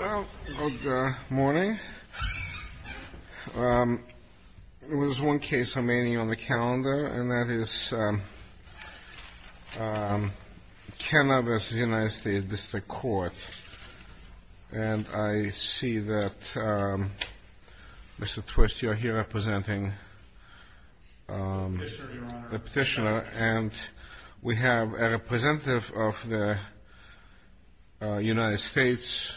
Good morning. There is one case remaining on the calendar, and that is Kenna v. U.S. District Court, and I see that, Mr. Twist, you are here representing the petitioner, and we have a representative of the United States.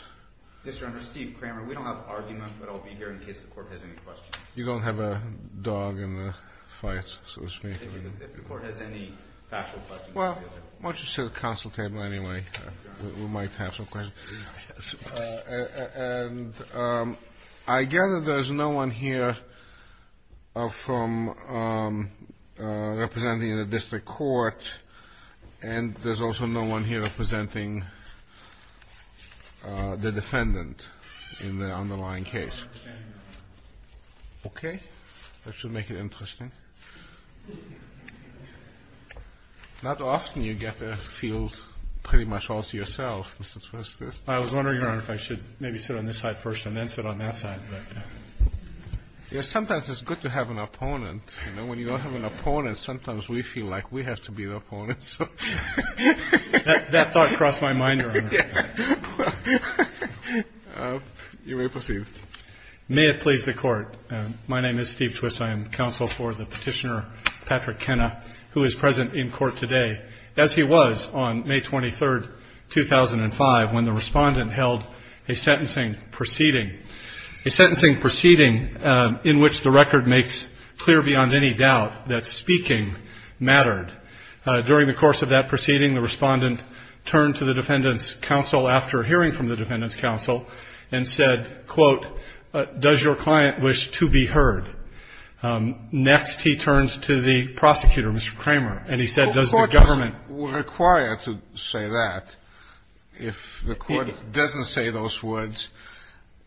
Mr. Undersecretary, we don't have an argument, but I'll be here in case the court has any questions. You don't have a dog in the fight, so to speak. If the court has any factual questions. Why don't you sit at the council table anyway? We might have some questions. I gather there is no one here representing the district court, and there is also no one here representing the defendant in the underlying case. Okay. That should make it interesting. Not often you get to feel pretty much all to yourself, Mr. Twist. I was wondering, Your Honor, if I should maybe sit on this side first and then sit on that side. Sometimes it's good to have an opponent. You know, when you don't have an opponent, sometimes we feel like we have to be the opponent. That thought crossed my mind, Your Honor. You may proceed. May it please the court. My name is Steve Twist. I am counsel for the petitioner, Patrick Kenna, who is present in court today, as he was on May 23rd, 2005, when the respondent held a sentencing proceeding, a sentencing proceeding in which the record makes clear beyond any doubt that speaking mattered. During the course of that proceeding, the respondent turned to the defendants' counsel after hearing from the defendants' counsel and said, quote, does your client wish to be heard? Next he turns to the prosecutor, Mr. Kramer, and he said, does the government ---- Well, the court were required to say that. If the court doesn't say those words,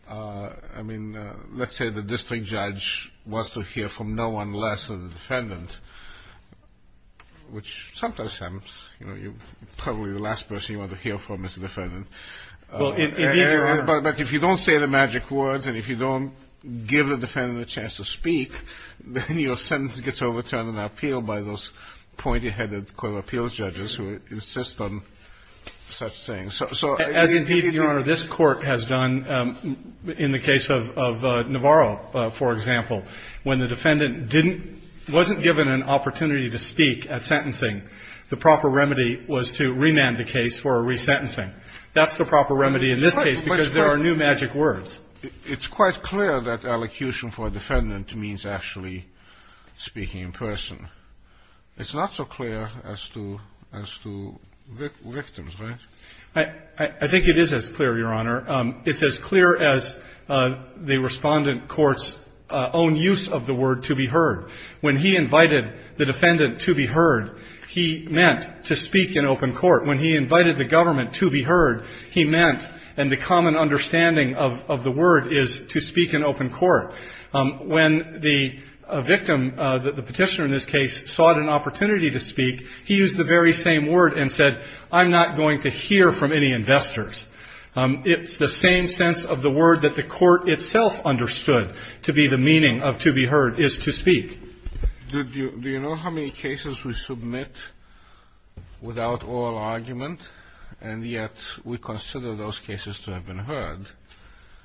I mean, let's say the district judge wants to hear from no one less than the defendant, which sometimes happens. You know, you're probably the last person you want to hear from as a defendant. Well, indeed, Your Honor ---- But if you don't say the magic words and if you don't give the defendant a chance to speak, then your sentence gets overturned on appeal by those pointy-headed court of appeals judges who insist on such things. So indeed, Your Honor, this Court has done in the case of Navarro, for example, when the defendant didn't ---- wasn't given an opportunity to speak at sentencing, the proper remedy was to remand the case for a resentencing. That's the proper remedy in this case because there are new magic words. It's quite clear that elocution for a defendant means actually speaking in person. It's not so clear as to victims, right? I think it is as clear, Your Honor. It's as clear as the Respondent Court's own use of the word to be heard. When he invited the defendant to be heard, he meant to speak in open court. When he invited the government to be heard, he meant ---- and the common understanding of the word is to speak in open court. When the victim, the petitioner in this case, sought an opportunity to speak, he used the very same word and said, I'm not going to hear from any investors. It's the same sense of the word that the Court itself understood to be the meaning of to be heard is to speak. Do you know how many cases we submit without oral argument and yet we consider those cases to have been heard?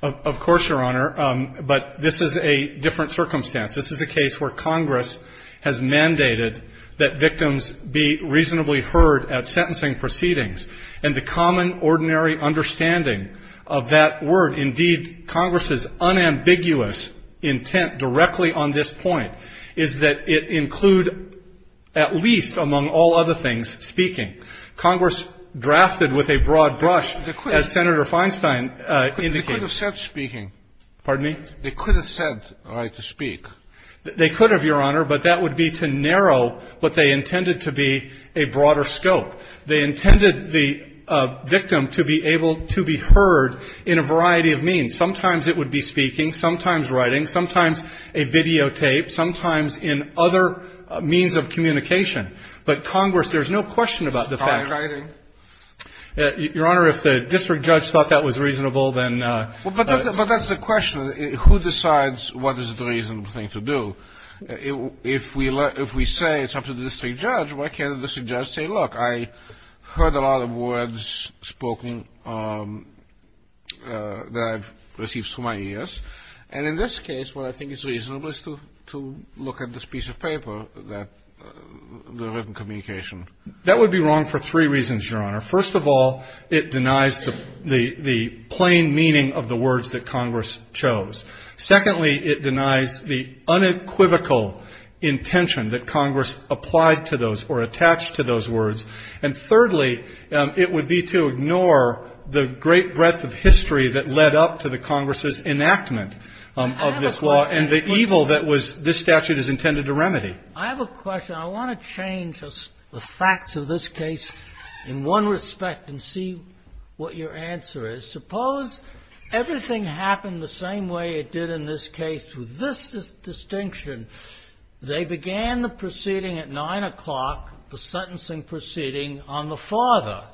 Of course, Your Honor. But this is a different circumstance. This is a case where Congress has mandated that victims be reasonably heard at sentencing proceedings. And the common, ordinary understanding of that word, indeed, Congress's unambiguous intent directly on this point, is that it include, at least among all other things, speaking. Congress drafted with a broad brush, as Senator Feinstein indicates. They could have said speaking. Pardon me? They could have said, all right, to speak. They could have, Your Honor, but that would be to narrow what they intended to be a broader scope. They intended the victim to be able to be heard in a variety of means. Sometimes it would be speaking, sometimes writing, sometimes a videotape, sometimes in other means of communication. But Congress, there's no question about the fact that the fact that the fact that the Your Honor, if the district judge thought that was reasonable, then the But that's the question. Who decides what is the reasonable thing to do? If we say it's up to the district judge, why can't the district judge say, look, I heard a lot of words spoken that I've received through my ears. And in this case, what I think is reasonable is to look at this piece of paper that the written communication. That would be wrong for three reasons, Your Honor. First of all, it denies the plain meaning of the words that Congress chose. Secondly, it denies the unequivocal intention that Congress applied to those or attached to those words. And thirdly, it would be to ignore the great breadth of history that led up to the Congress's enactment of this law and the evil that was this statute is intended to remedy. I have a question. I want to change the facts of this case in one respect and see what your answer is. Suppose everything happened the same way it did in this case with this distinction. They began the proceeding at 9 o'clock, the sentencing proceeding on the father.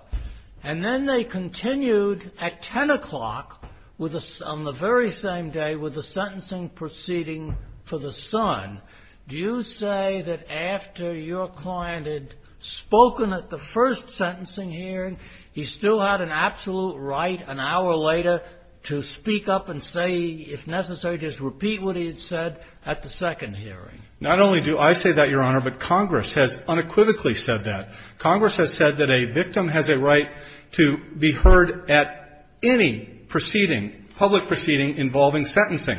And then they continued at 10 o'clock on the very same day with the sentencing proceeding for the son. Do you say that after your client had spoken at the first sentencing hearing, he still had an absolute right an hour later to speak up and say, if necessary, just repeat what he had said at the second hearing? Not only do I say that, Your Honor, but Congress has unequivocally said that. Congress has said that a victim has a right to be heard at any proceeding, public proceeding involving sentencing.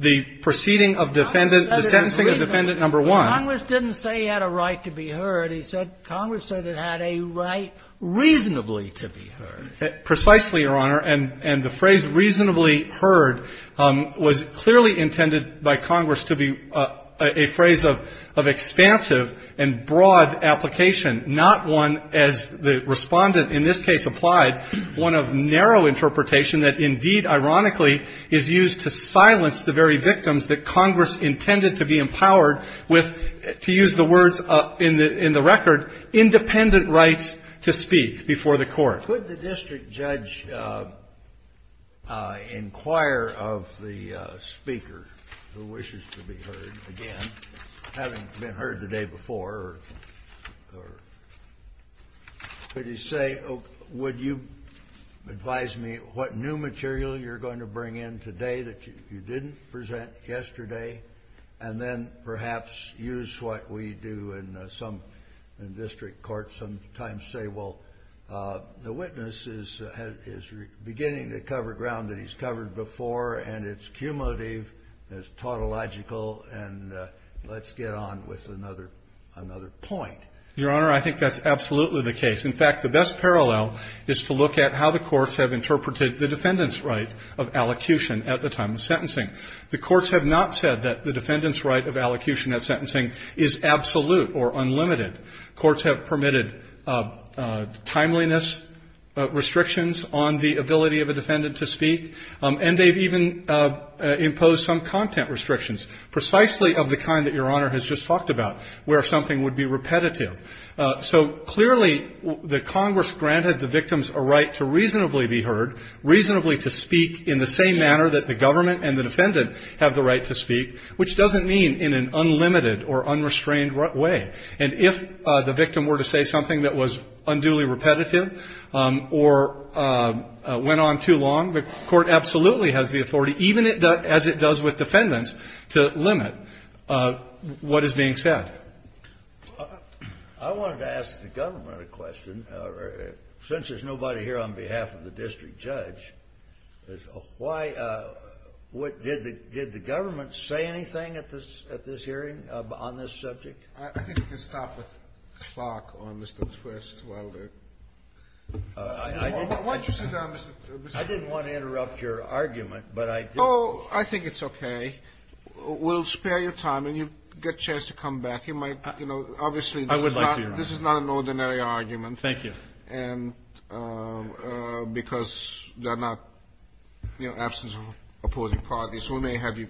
The proceeding of defendant, the sentencing of defendant number one. Congress didn't say he had a right to be heard. He said Congress said it had a right reasonably to be heard. Precisely, Your Honor. And the phrase reasonably heard was clearly intended by Congress to be a phrase of expansive and broad application, not one, as the Respondent in this case applied, one of narrow interpretation that indeed, ironically, is used to silence the very record, independent rights to speak before the court. Could the district judge inquire of the speaker who wishes to be heard again, having been heard the day before, or could he say, would you advise me what new material you're going to bring in today that you didn't present yesterday, and then perhaps use what we do in some district courts sometimes say, well, the witness is beginning to cover ground that he's covered before, and it's cumulative, it's tautological, and let's get on with another point. Your Honor, I think that's absolutely the case. In fact, the best parallel is to look at how the courts have interpreted the defendant's right of allocution at the time of sentencing. The courts have not said that the defendant's right of allocution at sentencing is absolute or unlimited. Courts have permitted timeliness restrictions on the ability of a defendant to speak, and they've even imposed some content restrictions, precisely of the kind that Your Honor has just talked about, where something would be repetitive. So clearly, the Congress granted the victims a right to reasonably be heard, reasonably to speak in the same manner that the government and the defendant have the right to speak, which doesn't mean in an unlimited or unrestrained way. And if the victim were to say something that was unduly repetitive or went on too long, the court absolutely has the authority, even as it does with defendants, to limit what is being said. I wanted to ask the government a question. Since there's nobody here on behalf of the district judge, did the government say anything at this hearing on this subject? I think we can stop the clock on Mr. McQuist while we're at it. Why don't you sit down, Mr. McQuist? I didn't want to interrupt your argument, but I did. Oh, I think it's okay. We'll spare you time, and you get a chance to come back. You might, you know, obviously, this is not an ordinary argument. Thank you. And because there are not, you know, absence of opposing parties, we may have you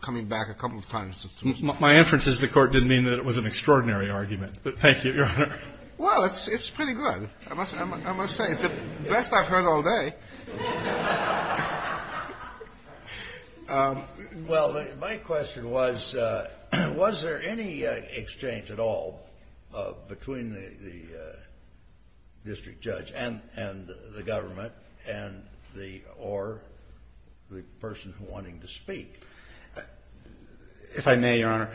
coming back a couple of times. My inference is the court didn't mean that it was an extraordinary argument, but thank you, Your Honor. Well, it's pretty good, I must say. It's the best I've heard all day. Well, my question was, was there any exchange at all between the district judge and the government or the person wanting to speak? If I may, Your Honor,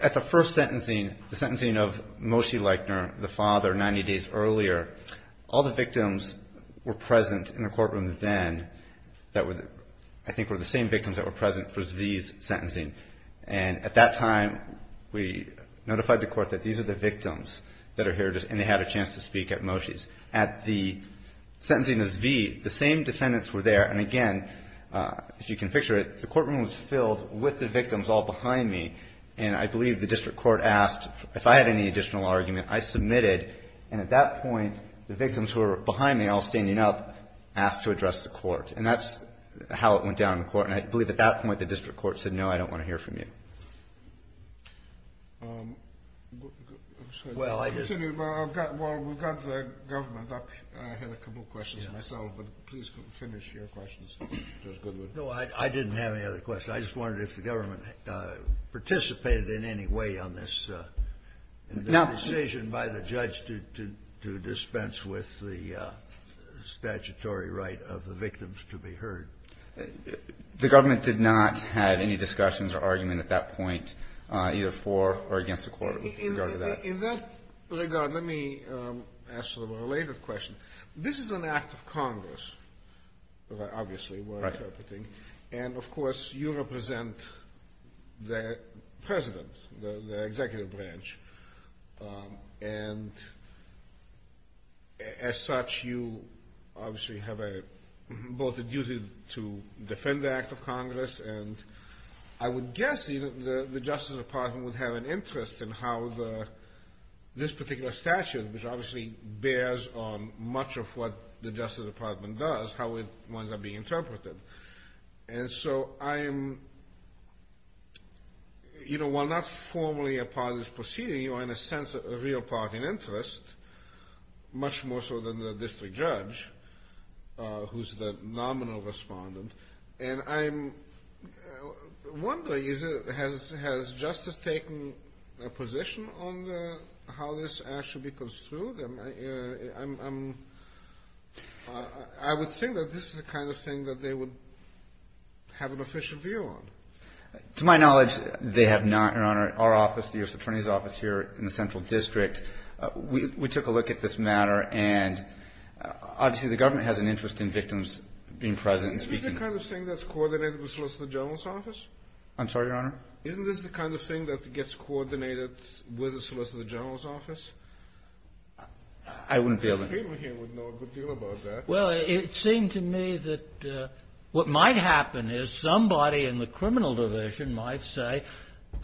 at the first sentencing, the sentencing of Moshe Leichner, the father, 90 days earlier, all the victims were present in the courtroom then that were, I think, were the same victims that were present for Zvi's sentencing. And at that time, we notified the court that these are the victims that are here, and they had a chance to speak at Moshe's. At the sentencing of Zvi, the same defendants were there. And again, if you can picture it, the courtroom was filled with the victims all behind me. And I believe the district court asked if I had any additional argument. I submitted. And at that point, the victims who were behind me all standing up asked to address the court. And that's how it went down in the court. And I believe at that point, the district court said, no, I don't want to hear from you. Well, we've got the government up. I had a couple of questions myself, but please finish your questions, Judge Goodwood. No, I didn't have any other questions. I just wondered if the government participated in any way on this decision by the judge to dispense with the statutory right of the victims to be heard. The government did not have any discussions or argument at that point either for or against the court with regard to that. In that regard, let me ask a little related question. This is an act of Congress, obviously, we're interpreting. Right. And, of course, you represent the president, the executive branch. And as such, you obviously have both a duty to defend the act of Congress. And I would guess the Justice Department would have an interest in how this particular statute, which obviously bears on much of what the Justice Department does, how it winds up being interpreted. And so I am, you know, while not formally a part of this proceeding, you are in a sense a real part in interest, much more so than the district judge, who's the nominal respondent. And I'm wondering, has Justice taken a position on how this act should be construed? I would think that this is the kind of thing that they would have an official view on. To my knowledge, they have not, Your Honor. Our office, the U.S. Attorney's Office here in the Central District, we took a look at this matter. And obviously the government has an interest in victims being present and speaking. Isn't this the kind of thing that's coordinated with the Solicitor General's office? I'm sorry, Your Honor? Isn't this the kind of thing that gets coordinated with the Solicitor General's office? I wouldn't be able to. People here would know a good deal about that. Well, it seemed to me that what might happen is somebody in the criminal division might say,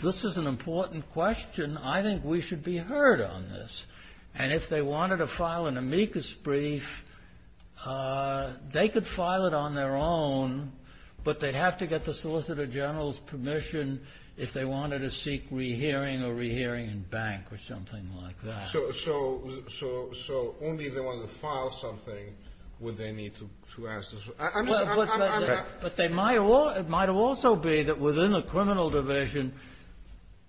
this is an important question. I think we should be heard on this. And if they wanted to file an amicus brief, they could file it on their own, but they'd have to get the Solicitor General's permission if they wanted to seek re-hearing or re-hearing in bank or something like that. So only if they wanted to file something would they need to ask this? But it might also be that within the criminal division,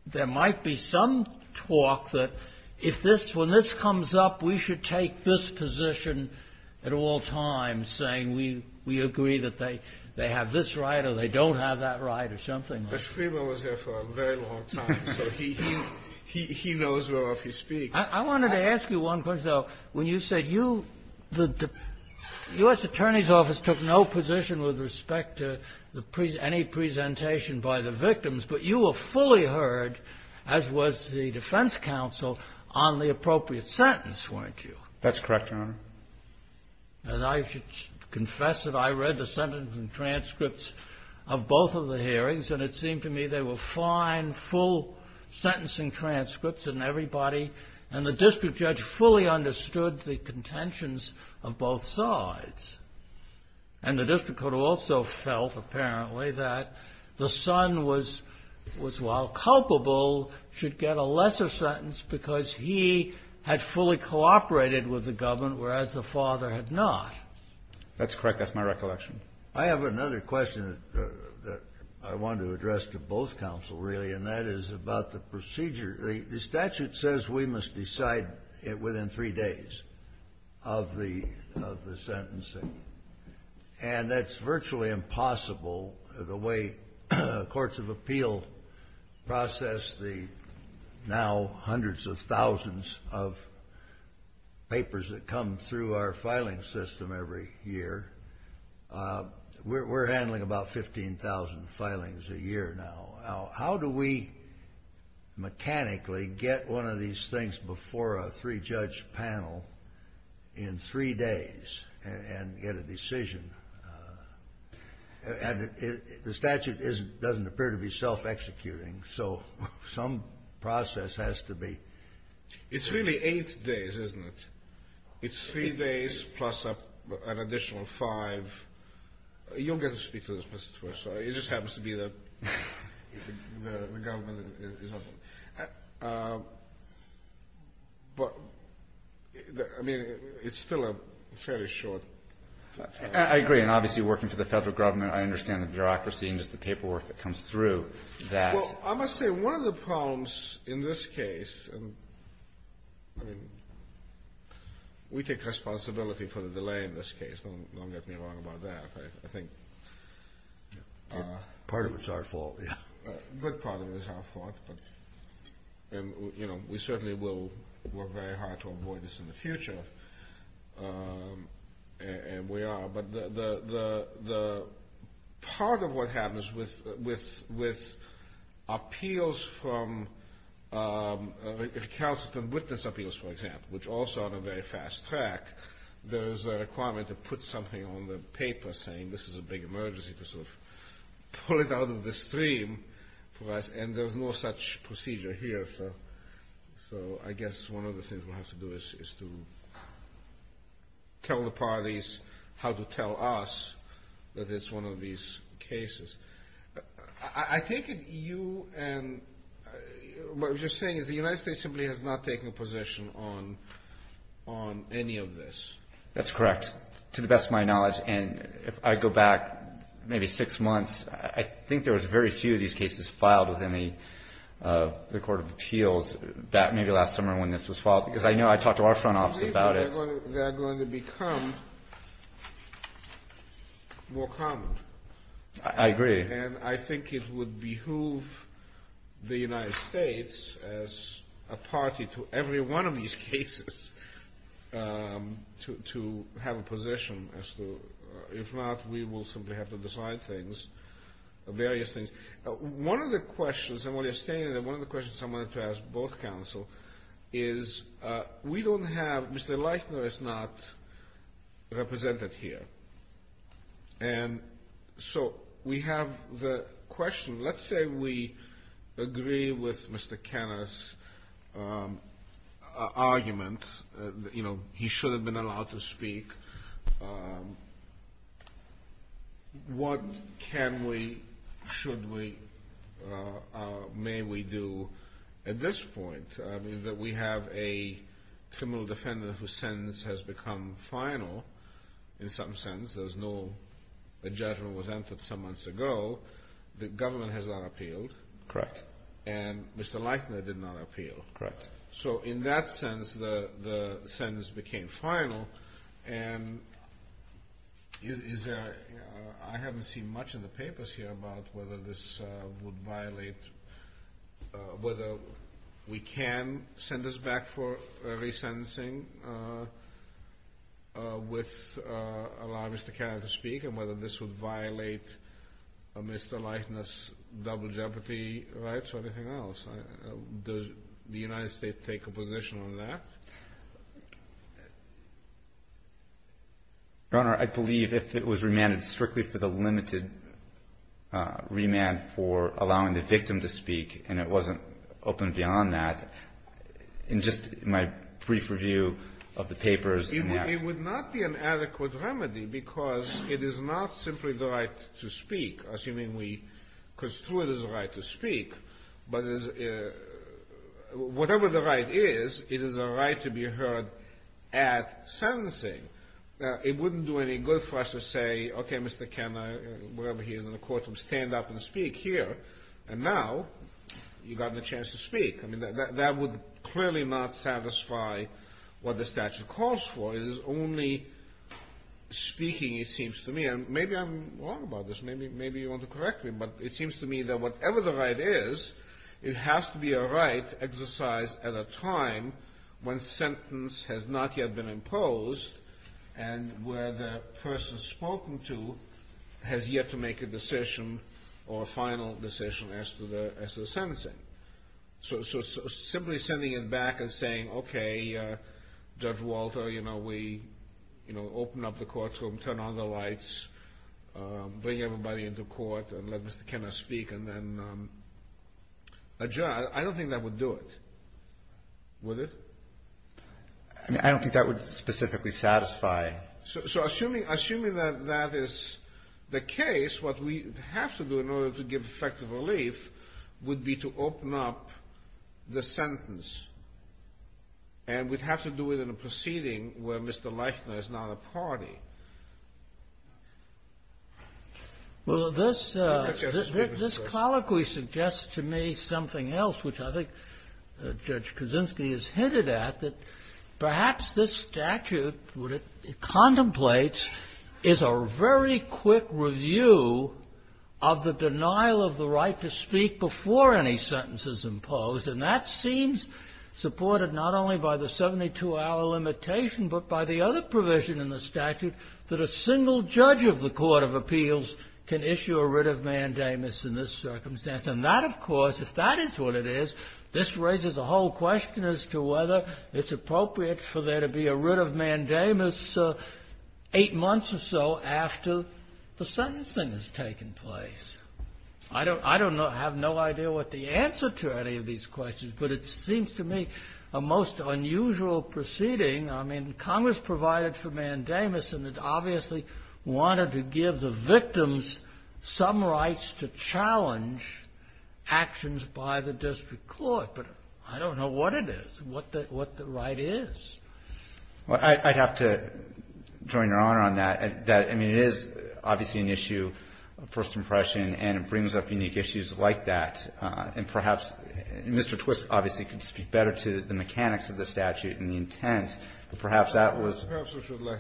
there might be some talk that when this comes up, we should take this position at all times, saying we agree that they have this right or they don't have that right or something like that. But Schreiber was there for a very long time, so he knows whereof he speaks. I wanted to ask you one question, though. When you said the U.S. Attorney's Office took no position with respect to any presentation by the victims, but you were fully heard, as was the defense counsel, on the appropriate sentence, weren't you? That's correct, Your Honor. And I should confess that I read the sentencing transcripts of both of the hearings, and it seemed to me they were fine, full sentencing transcripts in everybody, and the district judge fully understood the contentions of both sides. And the district court also felt, apparently, that the son was, while culpable, should get a lesser sentence because he had fully cooperated with the government, whereas the father had not. That's correct. That's my recollection. I have another question that I wanted to address to both counsel, really, and that is about the procedure. The statute says we must decide it within three days of the sentencing, and that's virtually impossible the way courts of appeal process the now hundreds of thousands of papers that come through our filing system every year. We're handling about 15,000 filings a year now. How do we mechanically get one of these things before a three-judge panel in three days and get a decision? And the statute doesn't appear to be self-executing, so some process has to be. It's really eight days, isn't it? It's three days plus an additional five. You'll get to speak to this, Mr. Twissell. It just happens to be that the government is not. But, I mean, it's still a fairly short time. I agree. And obviously, working for the Federal Government, I understand the bureaucracy and just the paperwork that comes through that. Well, I must say, one of the problems in this case, and, I mean, we take responsibility for the delay in this case. Don't get me wrong about that. I think part of it is our fault. A good part of it is our fault. And, you know, we certainly will work very hard to avoid this in the future, and we are. But part of what happens with appeals from recalcitrant witness appeals, for example, which also are on a very fast track, there is a requirement to put something on the paper saying this is a big emergency to sort of pull it out of the stream for us, and there's no such procedure here. So I guess one of the things we'll have to do is to tell the parties how to tell us that it's one of these cases. I think you and what you're saying is the United States simply has not taken a position on any of this. That's correct, to the best of my knowledge. And if I go back maybe six months, I think there was very few of these cases filed within the Court of Appeals, maybe last summer when this was filed, because I know I talked to our front office about it. They're going to become more common. I agree. And I think it would behoove the United States as a party to every one of these cases to have a position as to, if not, we will simply have to decide things, various things. One of the questions, and while you're standing there, one of the questions I wanted to ask both counsel is we don't have Mr. Leitner is not represented here. And so we have the question. Let's say we agree with Mr. Kenner's argument, you know, he should have been allowed to speak. What can we, should we, may we do at this point? I mean that we have a criminal defendant whose sentence has become final in some sense. There's no judgment was entered some months ago. The government has not appealed. Correct. And Mr. Leitner did not appeal. Correct. So in that sense the sentence became final. And is there, I haven't seen much in the papers here about whether this would violate, whether we can send this back for re-sentencing with allowing Mr. Kenner to speak and whether this would violate Mr. Leitner's double jeopardy rights or anything else. Does the United States take a position on that? Your Honor, I believe if it was remanded strictly for the limited remand for allowing the victim to speak and it wasn't opened beyond that, in just my brief review of the papers. It would not be an adequate remedy because it is not simply the right to speak, assuming we construe it as a right to speak. But whatever the right is, it is a right to be heard at sentencing. It wouldn't do any good for us to say, okay, Mr. Kenner, wherever he is in the courtroom, stand up and speak here. And now you've gotten a chance to speak. I mean, that would clearly not satisfy what the statute calls for. It is only speaking, it seems to me. And maybe I'm wrong about this. Maybe you want to correct me, but it seems to me that whatever the right is, it has to be a right exercised at a time when sentence has not yet been imposed and where the person spoken to has yet to make a decision or a final decision as to the sentencing. So simply sending it back and saying, okay, Judge Walter, we open up the courtroom, turn on the lights, bring everybody into court and let Mr. Kenner speak and then adjourn. I don't think that would do it. Would it? I don't think that would specifically satisfy. So assuming that that is the case, what we have to do in order to give effective relief would be to open up the sentence. And we'd have to do it in a proceeding where Mr. Leichner is not a party. Well, this colloquy suggests to me something else, which I think Judge Kuczynski has hinted at, that perhaps this statute contemplates is a very quick review of the denial of the right to speak before any sentence is imposed. And that seems supported not only by the 72-hour limitation, but by the other provision in the statute that a single judge of the Court of Appeals can issue a writ of mandamus in this circumstance. And that, of course, if that is what it is, this raises a whole question as to whether it's appropriate for there to be a writ of mandamus eight months or so after the sentencing has taken place. I don't have no idea what the answer to any of these questions, but it seems to me a most unusual proceeding. I mean, Congress provided for mandamus, and it obviously wanted to give the victims some rights to challenge actions by the district court. But I don't know what it is, what the right is. Well, I'd have to join Your Honor on that. I mean, it is obviously an issue of first impression, and it brings up unique issues like that. And perhaps Mr. Twist obviously could speak better to the mechanics of the statute and the intent, but perhaps that was the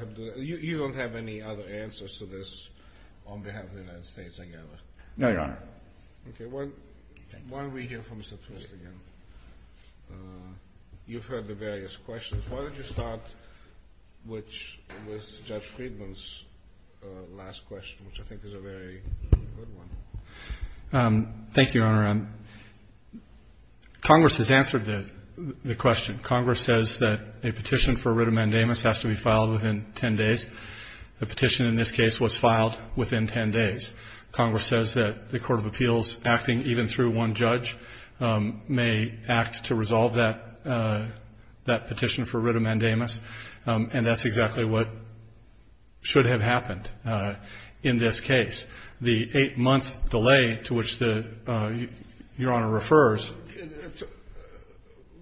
case. You don't have any other answers to this on behalf of the United States, I gather? No, Your Honor. Okay. Why don't we hear from Mr. Twist again? You've heard the various questions. Why don't you start with Judge Friedman's last question, which I think is a very good one. Thank you, Your Honor. Congress has answered the question. Congress says that a petition for writ of mandamus has to be filed within 10 days. The petition in this case was filed within 10 days. Congress says that the court of appeals, acting even through one judge, may act to resolve that petition for writ of mandamus, and that's exactly what should have happened in this case. The eight-month delay to which Your Honor refers.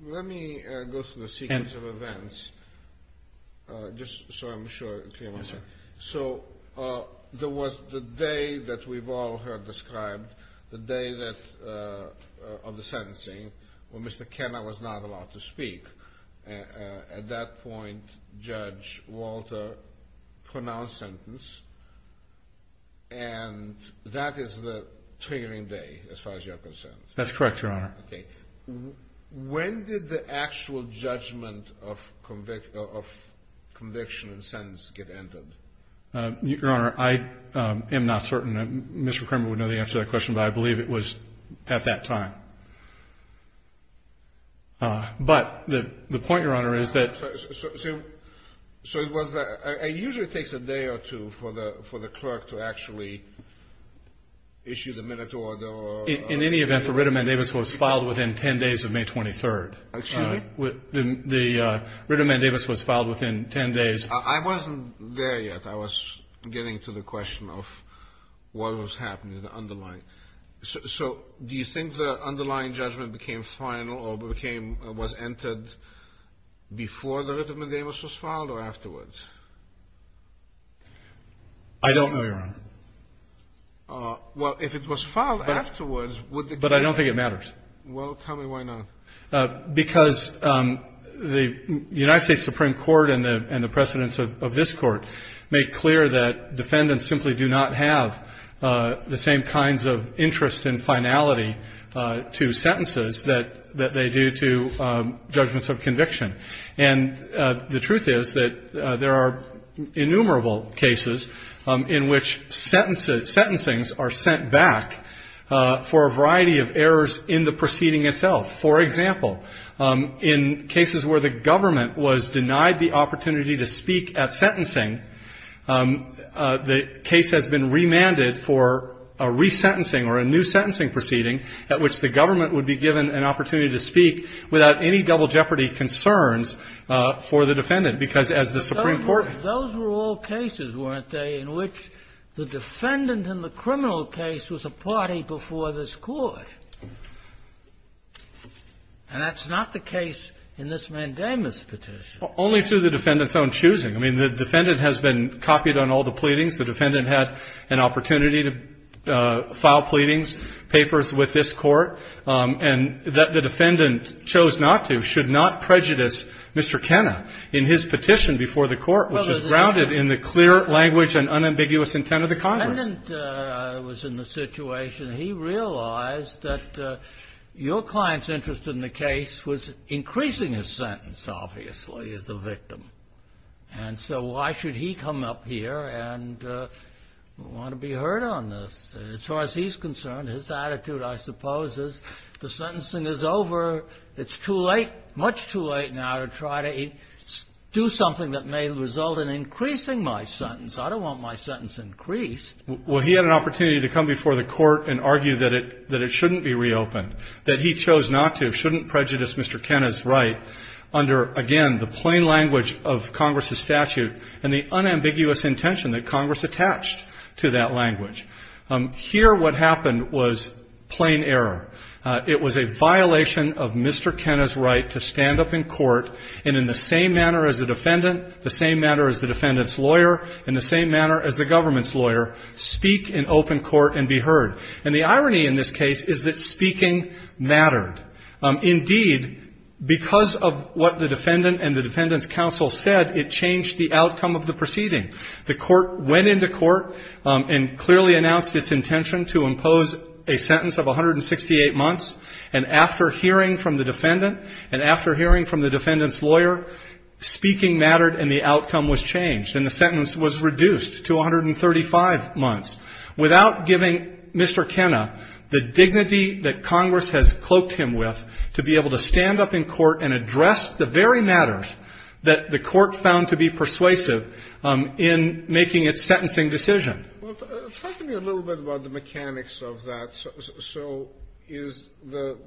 Let me go through the sequence of events just so I'm sure it's clear. Yes, sir. So there was the day that we've all heard described, the day of the sentencing, when Mr. Kenner was not allowed to speak. At that point, Judge Walter pronounced sentence, and that is the triggering day as far as you're concerned. That's correct, Your Honor. Okay. When did the actual judgment of conviction and sentence get entered? Your Honor, I am not certain. Mr. Kramer would know the answer to that question, but I believe it was at that time. But the point, Your Honor, is that. So it was that. It usually takes a day or two for the clerk to actually issue the minute order. In any event, the writ of mandamus was filed within 10 days of May 23rd. Excuse me? The writ of mandamus was filed within 10 days. I wasn't there yet. I was getting to the question of what was happening, the underlying. So do you think the underlying judgment became final or became, was entered before the writ of mandamus was filed or afterwards? I don't know, Your Honor. Well, if it was filed afterwards, would it? But I don't think it matters. Well, tell me why not. Because the United States Supreme Court and the precedents of this Court make clear that defendants simply do not have the same kinds of interest and finality to sentences that they do to judgments of conviction. And the truth is that there are innumerable cases in which sentencings are sent back for a variety of errors in the proceeding itself. For example, in cases where the government was denied the opportunity to speak at sentencing, the case has been remanded for a resentencing or a new sentencing proceeding at which the government would be given an opportunity to speak without any double jeopardy concerns for the defendant. Because as the Supreme Court ---- Those were all cases, weren't they, in which the defendant in the criminal case was a party before this Court. And that's not the case in this mandamus petition. Only through the defendant's own choosing. I mean, the defendant has been copied on all the pleadings. The defendant had an opportunity to file pleadings, papers with this Court. And the defendant chose not to, should not prejudice Mr. Kenna in his petition before the Court, which is grounded in the clear language and unambiguous intent of the Congress. The defendant was in the situation. He realized that your client's interest in the case was increasing his sentence, obviously, as a victim. And so why should he come up here and want to be heard on this? As far as he's concerned, his attitude, I suppose, is the sentencing is over. It's too late, much too late now to try to do something that may result in increasing my sentence. I don't want my sentence increased. Well, he had an opportunity to come before the Court and argue that it shouldn't be reopened, that he chose not to, shouldn't prejudice Mr. Kenna's right under, again, the plain language of Congress's statute and the unambiguous intention that Congress attached to that language. Here what happened was plain error. It was a violation of Mr. Kenna's right to stand up in Court and in the same manner as the defendant, the same manner as the defendant's lawyer, and the same manner as the government's lawyer, speak in open Court and be heard. And the irony in this case is that speaking mattered. Indeed, because of what the defendant and the defendant's counsel said, it changed the outcome of the proceeding. The Court went into Court and clearly announced its intention to impose a sentence of 168 months. And after hearing from the defendant and after hearing from the defendant's counsel, speaking mattered and the outcome was changed and the sentence was reduced to 135 months without giving Mr. Kenna the dignity that Congress has cloaked him with to be able to stand up in Court and address the very matters that the Court found to be persuasive in making its sentencing decision. Well, talk to me a little bit about the mechanics of that. So is the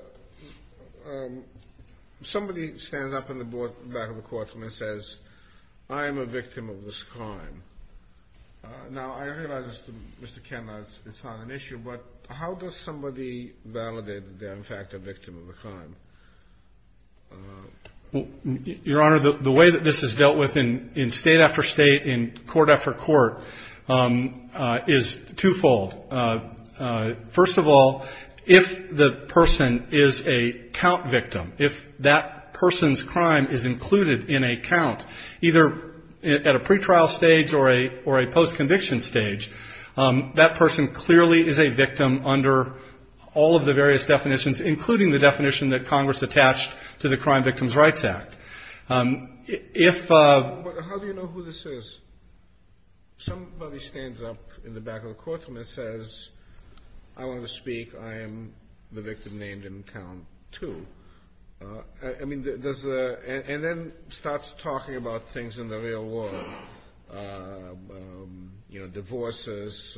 — somebody stands up in the back of the courtroom and says, I am a victim of this crime. Now, I realize, Mr. Kenna, it's not an issue, but how does somebody validate that they're in fact a victim of a crime? Well, Your Honor, the way that this is dealt with in State after State, in court after court, is twofold. First of all, if the person is a count victim, if that person's crime is included in a count, either at a pretrial stage or a post-conviction stage, that person clearly is a victim under all of the various definitions, including the definition that Congress attached to the Crime Victims' Rights Act. If — But how do you know who this is? Somebody stands up in the back of the courtroom and says, I want to speak, I am the victim named in count two. I mean, does the — and then starts talking about things in the real world, you know, divorces,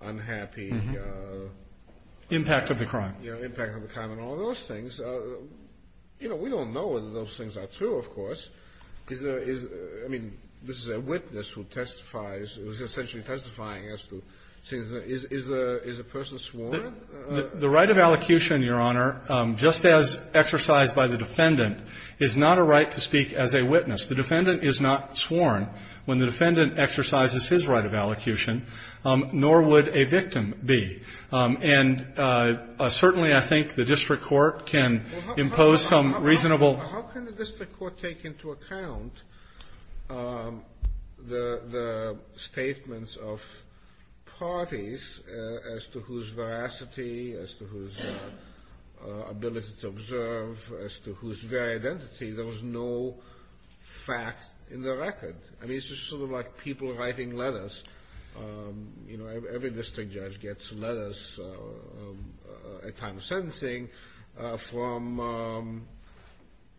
unhappy — Impact of the crime. Impact of the crime and all those things. You know, we don't know whether those things are true, of course. Is there — I mean, this is a witness who testifies — who is essentially testifying as to things. Is a person sworn? The right of allocution, Your Honor, just as exercised by the defendant, is not a right to speak as a witness. The defendant is not sworn when the defendant exercises his right of allocution, nor would a victim be. And certainly I think the district court can impose some reasonable — Well, how can the district court take into account the statements of parties as to whose veracity, as to whose ability to observe, as to whose very identity? There was no fact in the record. I mean, it's just sort of like people writing letters. You know, every district judge gets letters at time of sentencing from,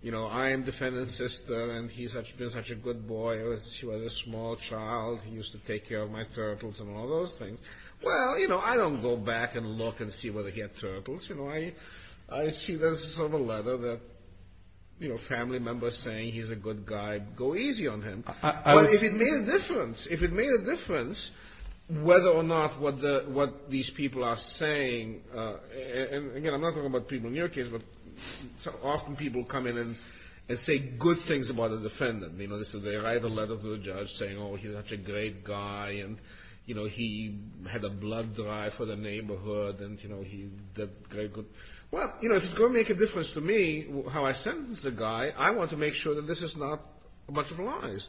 you know, I am defendant's sister, and he's been such a good boy. He was a small child. He used to take care of my turtles and all those things. Well, you know, I don't go back and look and see whether he had turtles. You know, I see there's sort of a letter that, you know, family members saying he's a good guy. Go easy on him. Well, if it made a difference, if it made a difference whether or not what these people are saying — and, again, I'm not talking about people in your case, but often people come in and say good things about a defendant. You know, they write a letter to a judge saying, oh, he's such a great guy, and, you know, he had a blood drive for the neighborhood, and, you know, he did very good. Well, you know, if it's going to make a difference to me how I sentence the guy, I want to make sure that this is not a bunch of lies.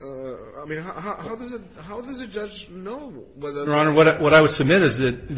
I mean, how does a judge know whether or not — Your Honor, what I would submit is that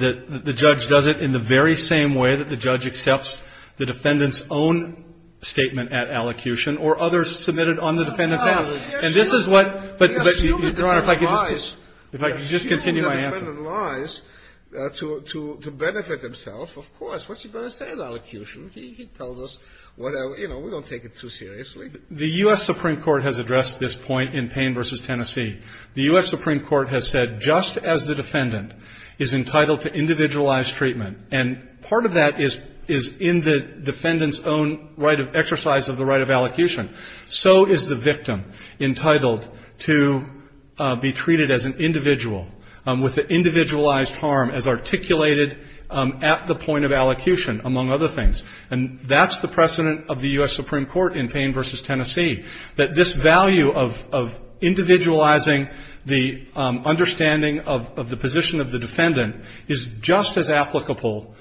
the judge does it in the very same way that the judge accepts the defendant's own statement at allocution or others submitted on the defendant's behalf. And this is what — We assume that the defendant lies. Your Honor, if I could just continue my answer. We assume that the defendant lies to benefit himself, of course. What's he going to say at allocution? He tells us, you know, we don't take it too seriously. The U.S. Supreme Court has addressed this point in Payne v. Tennessee. The U.S. Supreme Court has said just as the defendant is entitled to individualized treatment, and part of that is in the defendant's own exercise of the right of allocution, so is the victim entitled to be treated as an individual with the individualized harm as articulated at the point of allocution, among other things. And that's the precedent of the U.S. Supreme Court in Payne v. Tennessee, that this value of individualizing the understanding of the position of the defendant is just as applicable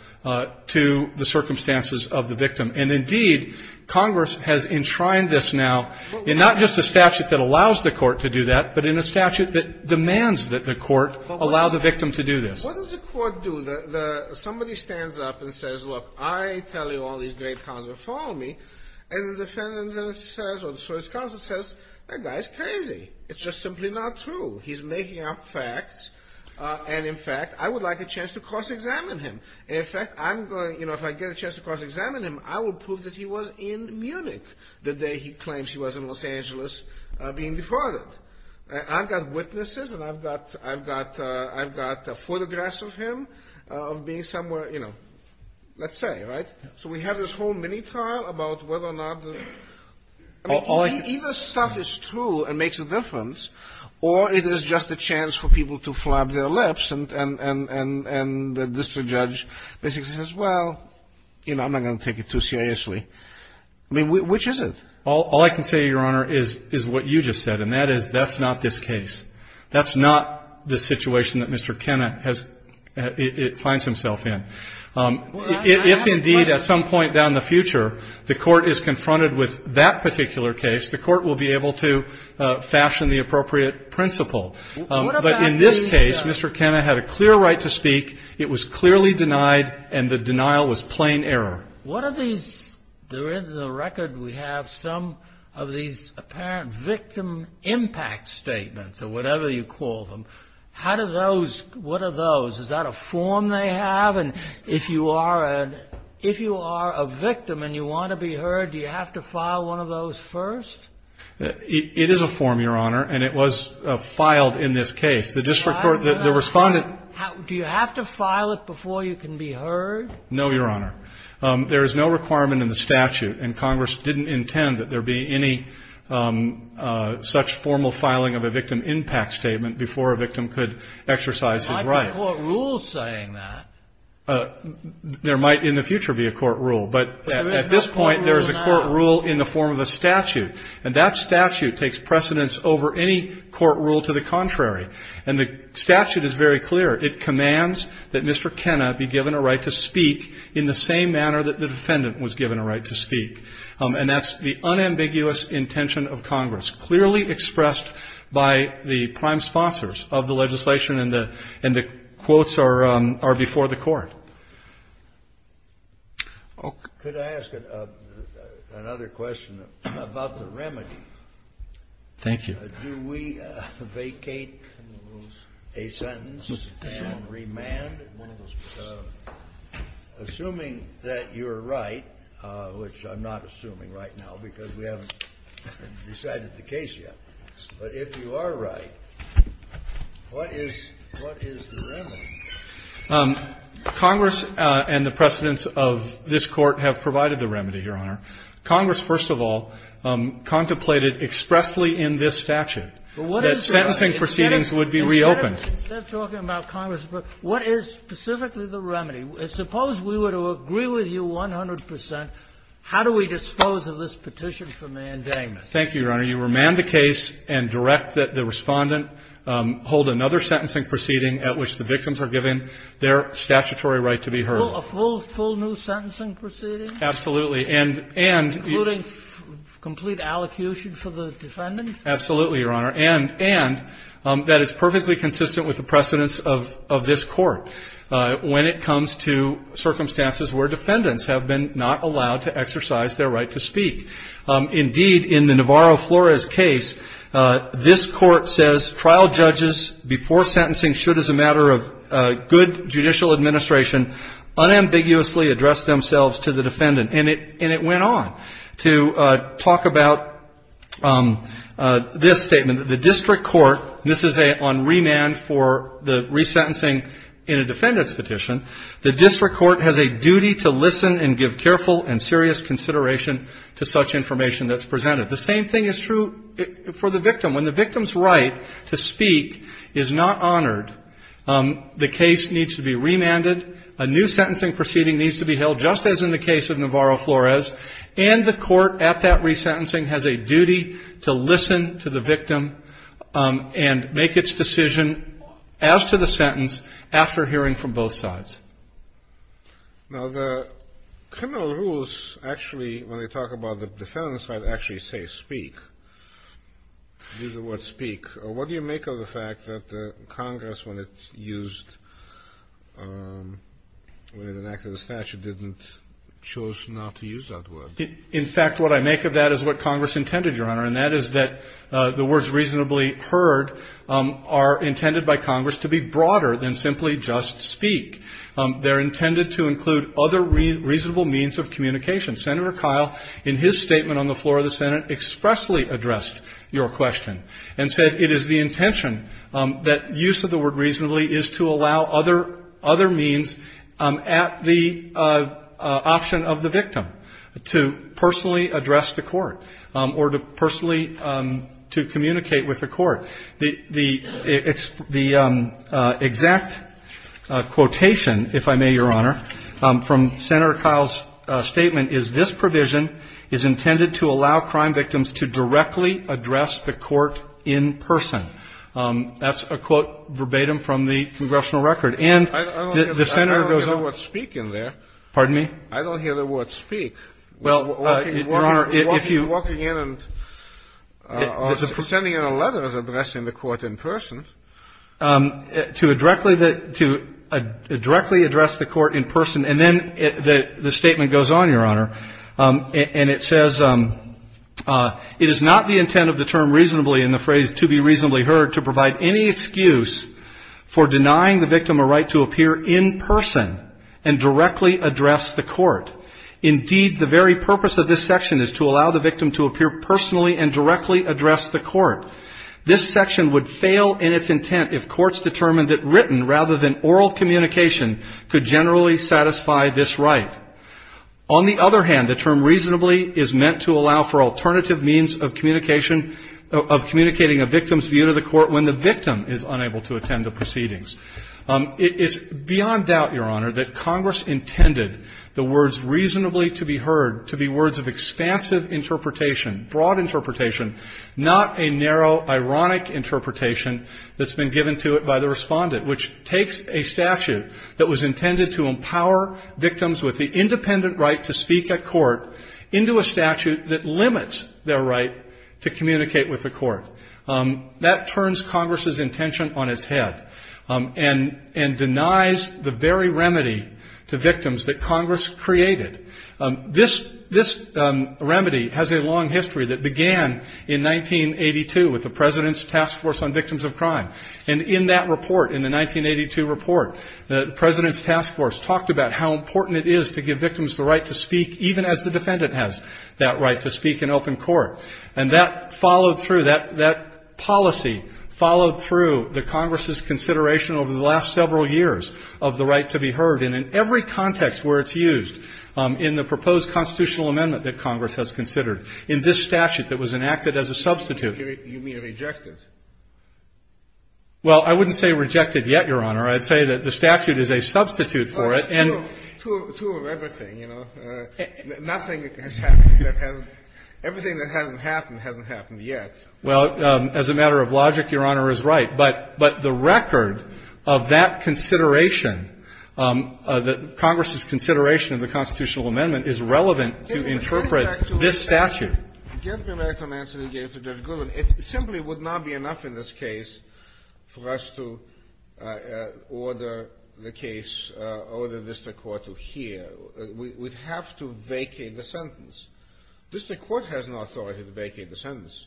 to the circumstances of the victim. And indeed, Congress has enshrined this now in not just a statute that allows the court to do that, but in a statute that demands that the court allow the victim to do this. What does the court do? Somebody stands up and says, look, I tell you all these great counts are following me, and the defendant says, or the first counsel says, that guy's crazy. It's just simply not true. He's making up facts. And, in fact, I would like a chance to cross-examine him. And, in fact, I'm going to, you know, if I get a chance to cross-examine him, I will prove that he was in Munich the day he claims he was in Los Angeles being defrauded. I've got witnesses, and I've got photographs of him being somewhere, you know, let's say, right? So we have this whole mini-trial about whether or not the – I mean, either stuff is true and makes a difference, or it is just a chance for people to flab their lips, and the district judge basically says, well, you know, I'm not going to take it too seriously. I mean, which is it? All I can say, Your Honor, is what you just said, and that is that's not this case. That's not the situation that Mr. Kenna has – finds himself in. If, indeed, at some point down the future, the court is confronted with that particular case, the court will be able to fashion the appropriate principle. But in this case, Mr. Kenna had a clear right to speak. It was clearly denied, and the denial was plain error. What are these – in the record we have some of these apparent victim impact statements, or whatever you call them. How do those – what are those? Is that a form they have? And if you are a – if you are a victim and you want to be heard, do you have to file one of those first? It is a form, Your Honor, and it was filed in this case. The district court – the respondent – Do you have to file it before you can be heard? No, Your Honor. There is no requirement in the statute, and Congress didn't intend that there be any such formal filing of a victim impact statement before a victim could exercise his right. There might be a court rule saying that. There might in the future be a court rule. But at this point, there is a court rule in the form of a statute, and that statute takes precedence over any court rule to the contrary. And the statute is very clear. It commands that Mr. Kenna be given a right to speak in the same manner that the defendant was given a right to speak. And that's the unambiguous intention of Congress, clearly expressed by the prime sponsors of the legislation, and the – and the quotes are before the court. Could I ask another question about the remedy? Thank you. Do we vacate a sentence and remand? Assuming that you're right, which I'm not assuming right now because we haven't decided the case yet, but if you are right, what is – what is the remedy? Congress and the precedents of this court have provided the remedy, Your Honor. Congress, first of all, contemplated expressly in this statute that sentencing proceedings would be reopened. Instead of talking about Congress, what is specifically the remedy? Suppose we were to agree with you 100 percent. How do we dispose of this petition for mandatement? Thank you, Your Honor. You remand the case and direct that the Respondent hold another sentencing proceeding at which the victims are given their statutory right to be heard. A full new sentencing proceeding? Absolutely. And – and – Including complete allocution for the defendants? Absolutely, Your Honor. And – and that is perfectly consistent with the precedents of – of this court when it comes to circumstances where defendants have been not allowed to exercise their right to speak. Indeed, in the Navarro-Flores case, this Court says trial judges before sentencing should, as a matter of good judicial administration, unambiguously address themselves to the defendant. And it – and it went on to talk about this statement. The district court – this is a – on remand for the resentencing in a defendant's petition. The district court has a duty to listen and give careful and serious consideration to such information that's presented. The same thing is true for the victim. When the victim's right to speak is not honored, the case needs to be remanded. A new sentencing proceeding needs to be held, just as in the case of Navarro-Flores. And the court at that resentencing has a duty to listen to the victim and make its decision as to the sentence after hearing from both sides. Now, the criminal rules actually, when they talk about the defendants, might actually say speak. Use the word speak. What do you make of the fact that Congress, when it used – when it enacted the statute, didn't – chose not to use that word? In fact, what I make of that is what Congress intended, Your Honor, and that is that the words reasonably heard are intended by Congress to be broader than simply just speak. They're intended to include other reasonable means of communication. Senator Kyle, in his statement on the floor of the Senate, expressly addressed your question and said it is the intention that use of the word reasonably is to allow other means at the option of the victim to personally address the court or to personally to communicate with the court. The exact quotation, if I may, Your Honor, from Senator Kyle's statement is, this provision is intended to allow crime victims to directly address the court in person. That's a quote verbatim from the congressional record. And the Senator goes on – I don't hear the word speak in there. Pardon me? I don't hear the word speak. Well, Your Honor, if you – Walking in and – or pretending in a letter as addressing the court in person. To directly address the court in person. And then the statement goes on, Your Honor, and it says, it is not the intent of the term reasonably in the phrase to be reasonably heard to provide any excuse for denying the victim a right to appear in person and directly address the court. Indeed, the very purpose of this section is to allow the victim to appear personally and directly address the court. This section would fail in its intent if courts determined that written rather than oral communication could generally satisfy this right. On the other hand, the term reasonably is meant to allow for alternative means of communication – of communicating a victim's view to the court when the victim is unable to attend the proceedings. It is beyond doubt, Your Honor, that Congress intended the words reasonably to be heard to be words of expansive interpretation, broad interpretation, not a narrow, ironic interpretation that's been given to it by the respondent, which takes a statute that was intended to empower victims with the independent right to speak at court into a statute that limits their right to communicate with the court. That turns Congress's intention on its head and denies the very remedy to victims that Congress created. This remedy has a long history that began in 1982 with the President's Task Force on Victims of Crime. And in that report, in the 1982 report, the President's Task Force talked about how important it is to give victims the right to speak even as the defendant has that right to speak in open court. And that followed through. That policy followed through the Congress's consideration over the last several years of the right to be heard. And in every context where it's used in the proposed constitutional amendment that Congress has considered, in this statute that was enacted as a substitute. You mean rejected? Well, I wouldn't say rejected yet, Your Honor. I'd say that the statute is a substitute for it. Two of everything, you know. Nothing has happened that has — everything that hasn't happened hasn't happened yet. Well, as a matter of logic, Your Honor is right. But the record of that consideration, that Congress's consideration of the constitutional amendment is relevant to interpret this statute. Give me back the answer you gave to Judge Goodwin. It simply would not be enough in this case for us to order the case, order the district court to hear. We'd have to vacate the sentence. District court has no authority to vacate the sentence.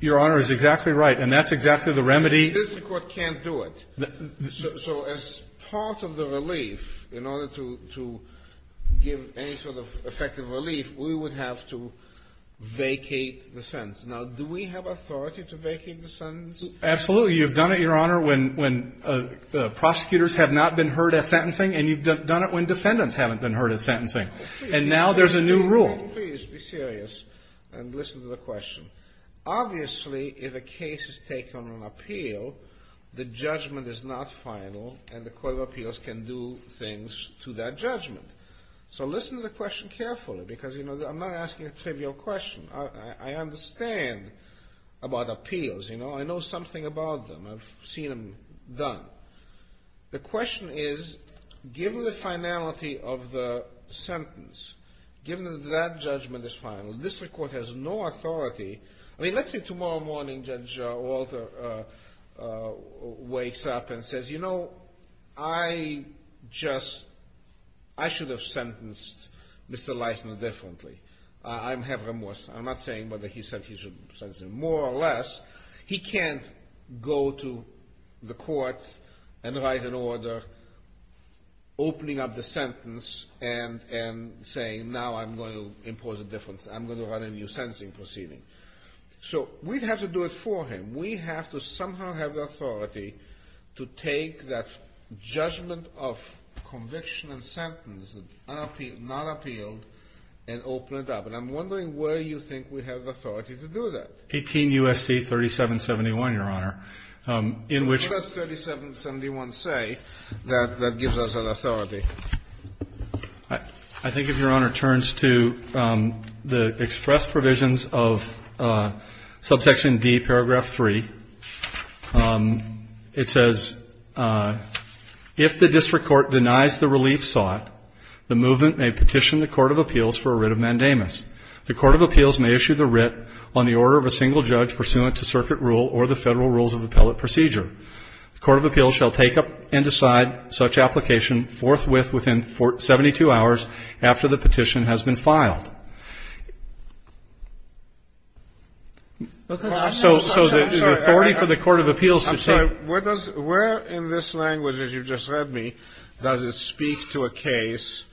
Your Honor is exactly right. And that's exactly the remedy. District court can't do it. So as part of the relief, in order to give any sort of effective relief, we would have to vacate the sentence. Now, do we have authority to vacate the sentence? You've done it, Your Honor, when prosecutors have not been heard at sentencing, and you've done it when defendants haven't been heard at sentencing. And now there's a new rule. Please be serious and listen to the question. Obviously, if a case is taken on an appeal, the judgment is not final, and the court of appeals can do things to that judgment. So listen to the question carefully, because, you know, I'm not asking a trivial question. I understand about appeals. You know, I know something about them. I've seen them done. The question is, given the finality of the sentence, given that that judgment is final, the district court has no authority. I mean, let's say tomorrow morning Judge Walter wakes up and says, you know, I just – I should have sentenced Mr. Leithner differently. I have remorse. I'm not saying whether he should sentence him more or less. He can't go to the court and write an order opening up the sentence and saying, now I'm going to impose a difference. I'm going to run a new sentencing proceeding. So we'd have to do it for him. We have to somehow have the authority to take that judgment of conviction and sentence, not appealed, and open it up. And I'm wondering where you think we have the authority to do that. 18 U.S.C. 3771, Your Honor. What does 3771 say that gives us an authority? I think if Your Honor turns to the express provisions of subsection D, paragraph 3, it says, if the district court denies the relief sought, the movement may petition the court of appeals for a writ of mandamus. The court of appeals may issue the writ on the order of a single judge pursuant to circuit rule or the federal rules of appellate procedure. The court of appeals shall take up and decide such application forthwith within 72 hours after the petition has been filed. So the authority for the court of appeals to take up. I'm sorry. Where in this language that you just read me does it speak to a case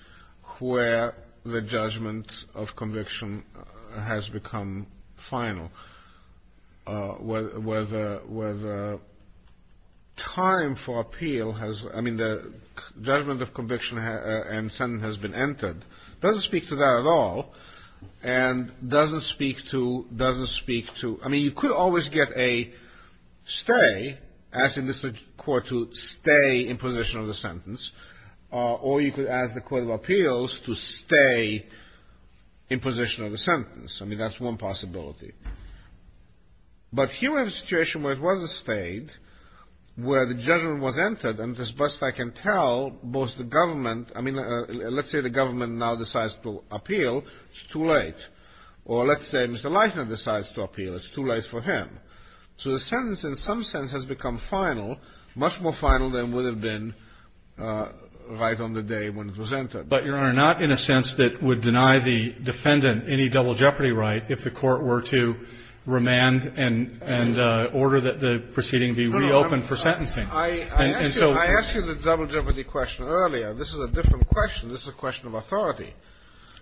where the judgment of conviction has become final? Where the time for appeal has, I mean, the judgment of conviction and sentence has been entered? It doesn't speak to that at all. And doesn't speak to, doesn't speak to, I mean, you could always get a stay, ask the district court to stay in position of the sentence, or you could ask the court of appeals to stay in position of the sentence. I mean, that's one possibility. But here we have a situation where it was a stay, where the judgment was entered, and as best I can tell, both the government, I mean, let's say the government now decides to appeal, it's too late. Or let's say Mr. Leichner decides to appeal, it's too late for him. So the sentence in some sense has become final, much more final than would have been right on the day when it was entered. But, Your Honor, not in a sense that would deny the defendant any double jeopardy right if the court were to remand and order that the proceeding be reopened for sentencing. I asked you the double jeopardy question earlier. This is a different question. This is a question of authority.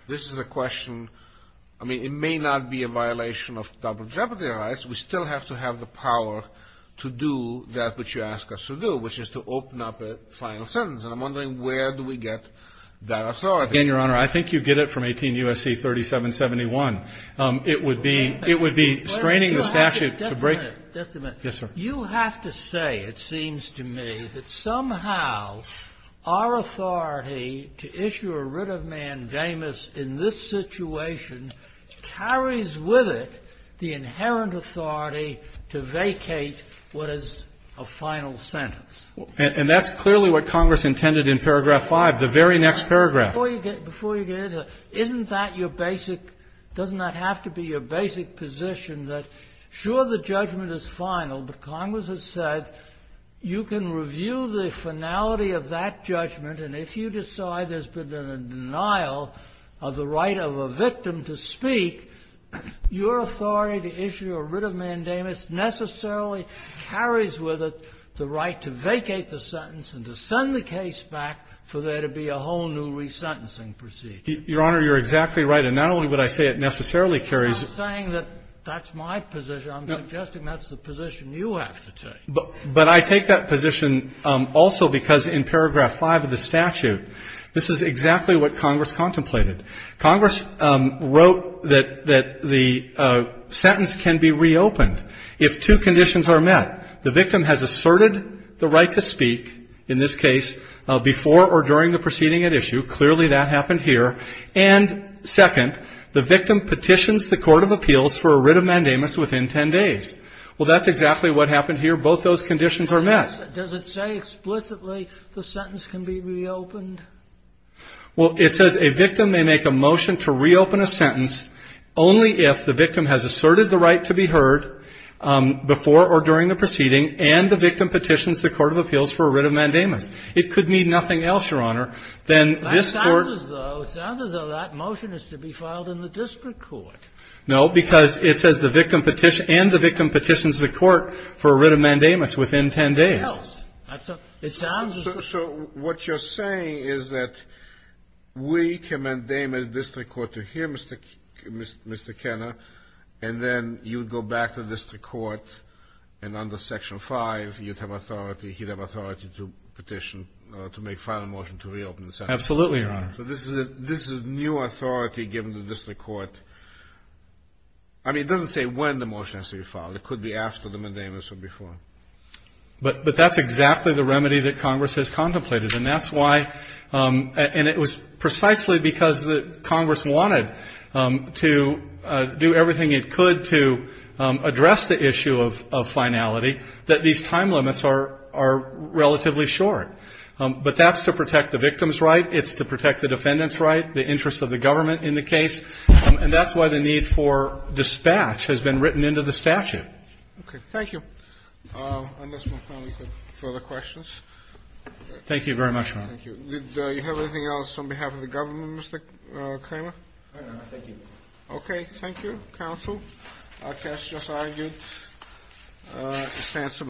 This is a question, I mean, it may not be a violation of double jeopardy rights. We still have to have the power to do that which you ask us to do, which is to open up a final sentence. And I'm wondering where do we get that authority? Again, Your Honor, I think you get it from 18 U.S.C. 3771. It would be straining the statute to break. Just a minute. Yes, sir. You have to say, it seems to me, that somehow our authority to issue a writ of mandamus in this situation carries with it the inherent authority to vacate what is a final sentence. And that's clearly what Congress intended in paragraph 5, the very next paragraph. Before you get into it, isn't that your basic, doesn't that have to be your basic position, that sure, the judgment is final, but Congress has said you can review the finality of that judgment, and if you decide there's been a denial of the right of a victim to speak, your authority to issue a writ of mandamus necessarily carries with it the right to vacate the sentence and to send the case back for there to be a whole new resentencing procedure. Your Honor, you're exactly right. And not only would I say it necessarily carries. I'm saying that that's my position. I'm suggesting that's the position you have to take. But I take that position also because in paragraph 5 of the statute, this is exactly what Congress contemplated. Congress wrote that the sentence can be reopened. If two conditions are met, the victim has asserted the right to speak, in this case, before or during the proceeding at issue. Clearly that happened here. And second, the victim petitions the court of appeals for a writ of mandamus within ten days. Well, that's exactly what happened here. Both those conditions are met. Does it say explicitly the sentence can be reopened? Well, it says a victim may make a motion to reopen a sentence only if the victim has asserted the right to be heard before or during the proceeding and the victim petitions the court of appeals for a writ of mandamus. It could mean nothing else, Your Honor, than this Court ---- That sounds as though that motion is to be filed in the district court. No, because it says the victim and the victim petitions the court for a writ of mandamus What else? It sounds as though ---- So what you're saying is that we can mandamus the district court to hear Mr. Kenna, and then you go back to the district court, and under Section 5, you'd have authority, he'd have authority to petition to make a final motion to reopen the sentence. Absolutely, Your Honor. So this is new authority given to the district court. I mean, it doesn't say when the motion has to be filed. It could be after the mandamus or before. But that's exactly the remedy that Congress has contemplated. And that's why ---- and it was precisely because Congress wanted to do everything it could to address the issue of finality that these time limits are relatively short. But that's to protect the victim's right. It's to protect the defendant's right, the interest of the government in the case. And that's why the need for dispatch has been written into the statute. Okay. Thank you. Unless my colleagues have further questions. Thank you very much, Your Honor. Thank you. Did you have anything else on behalf of the government, Mr. Kramer? No, Your Honor. Thank you. Okay. Thank you, counsel. Our cast just argued.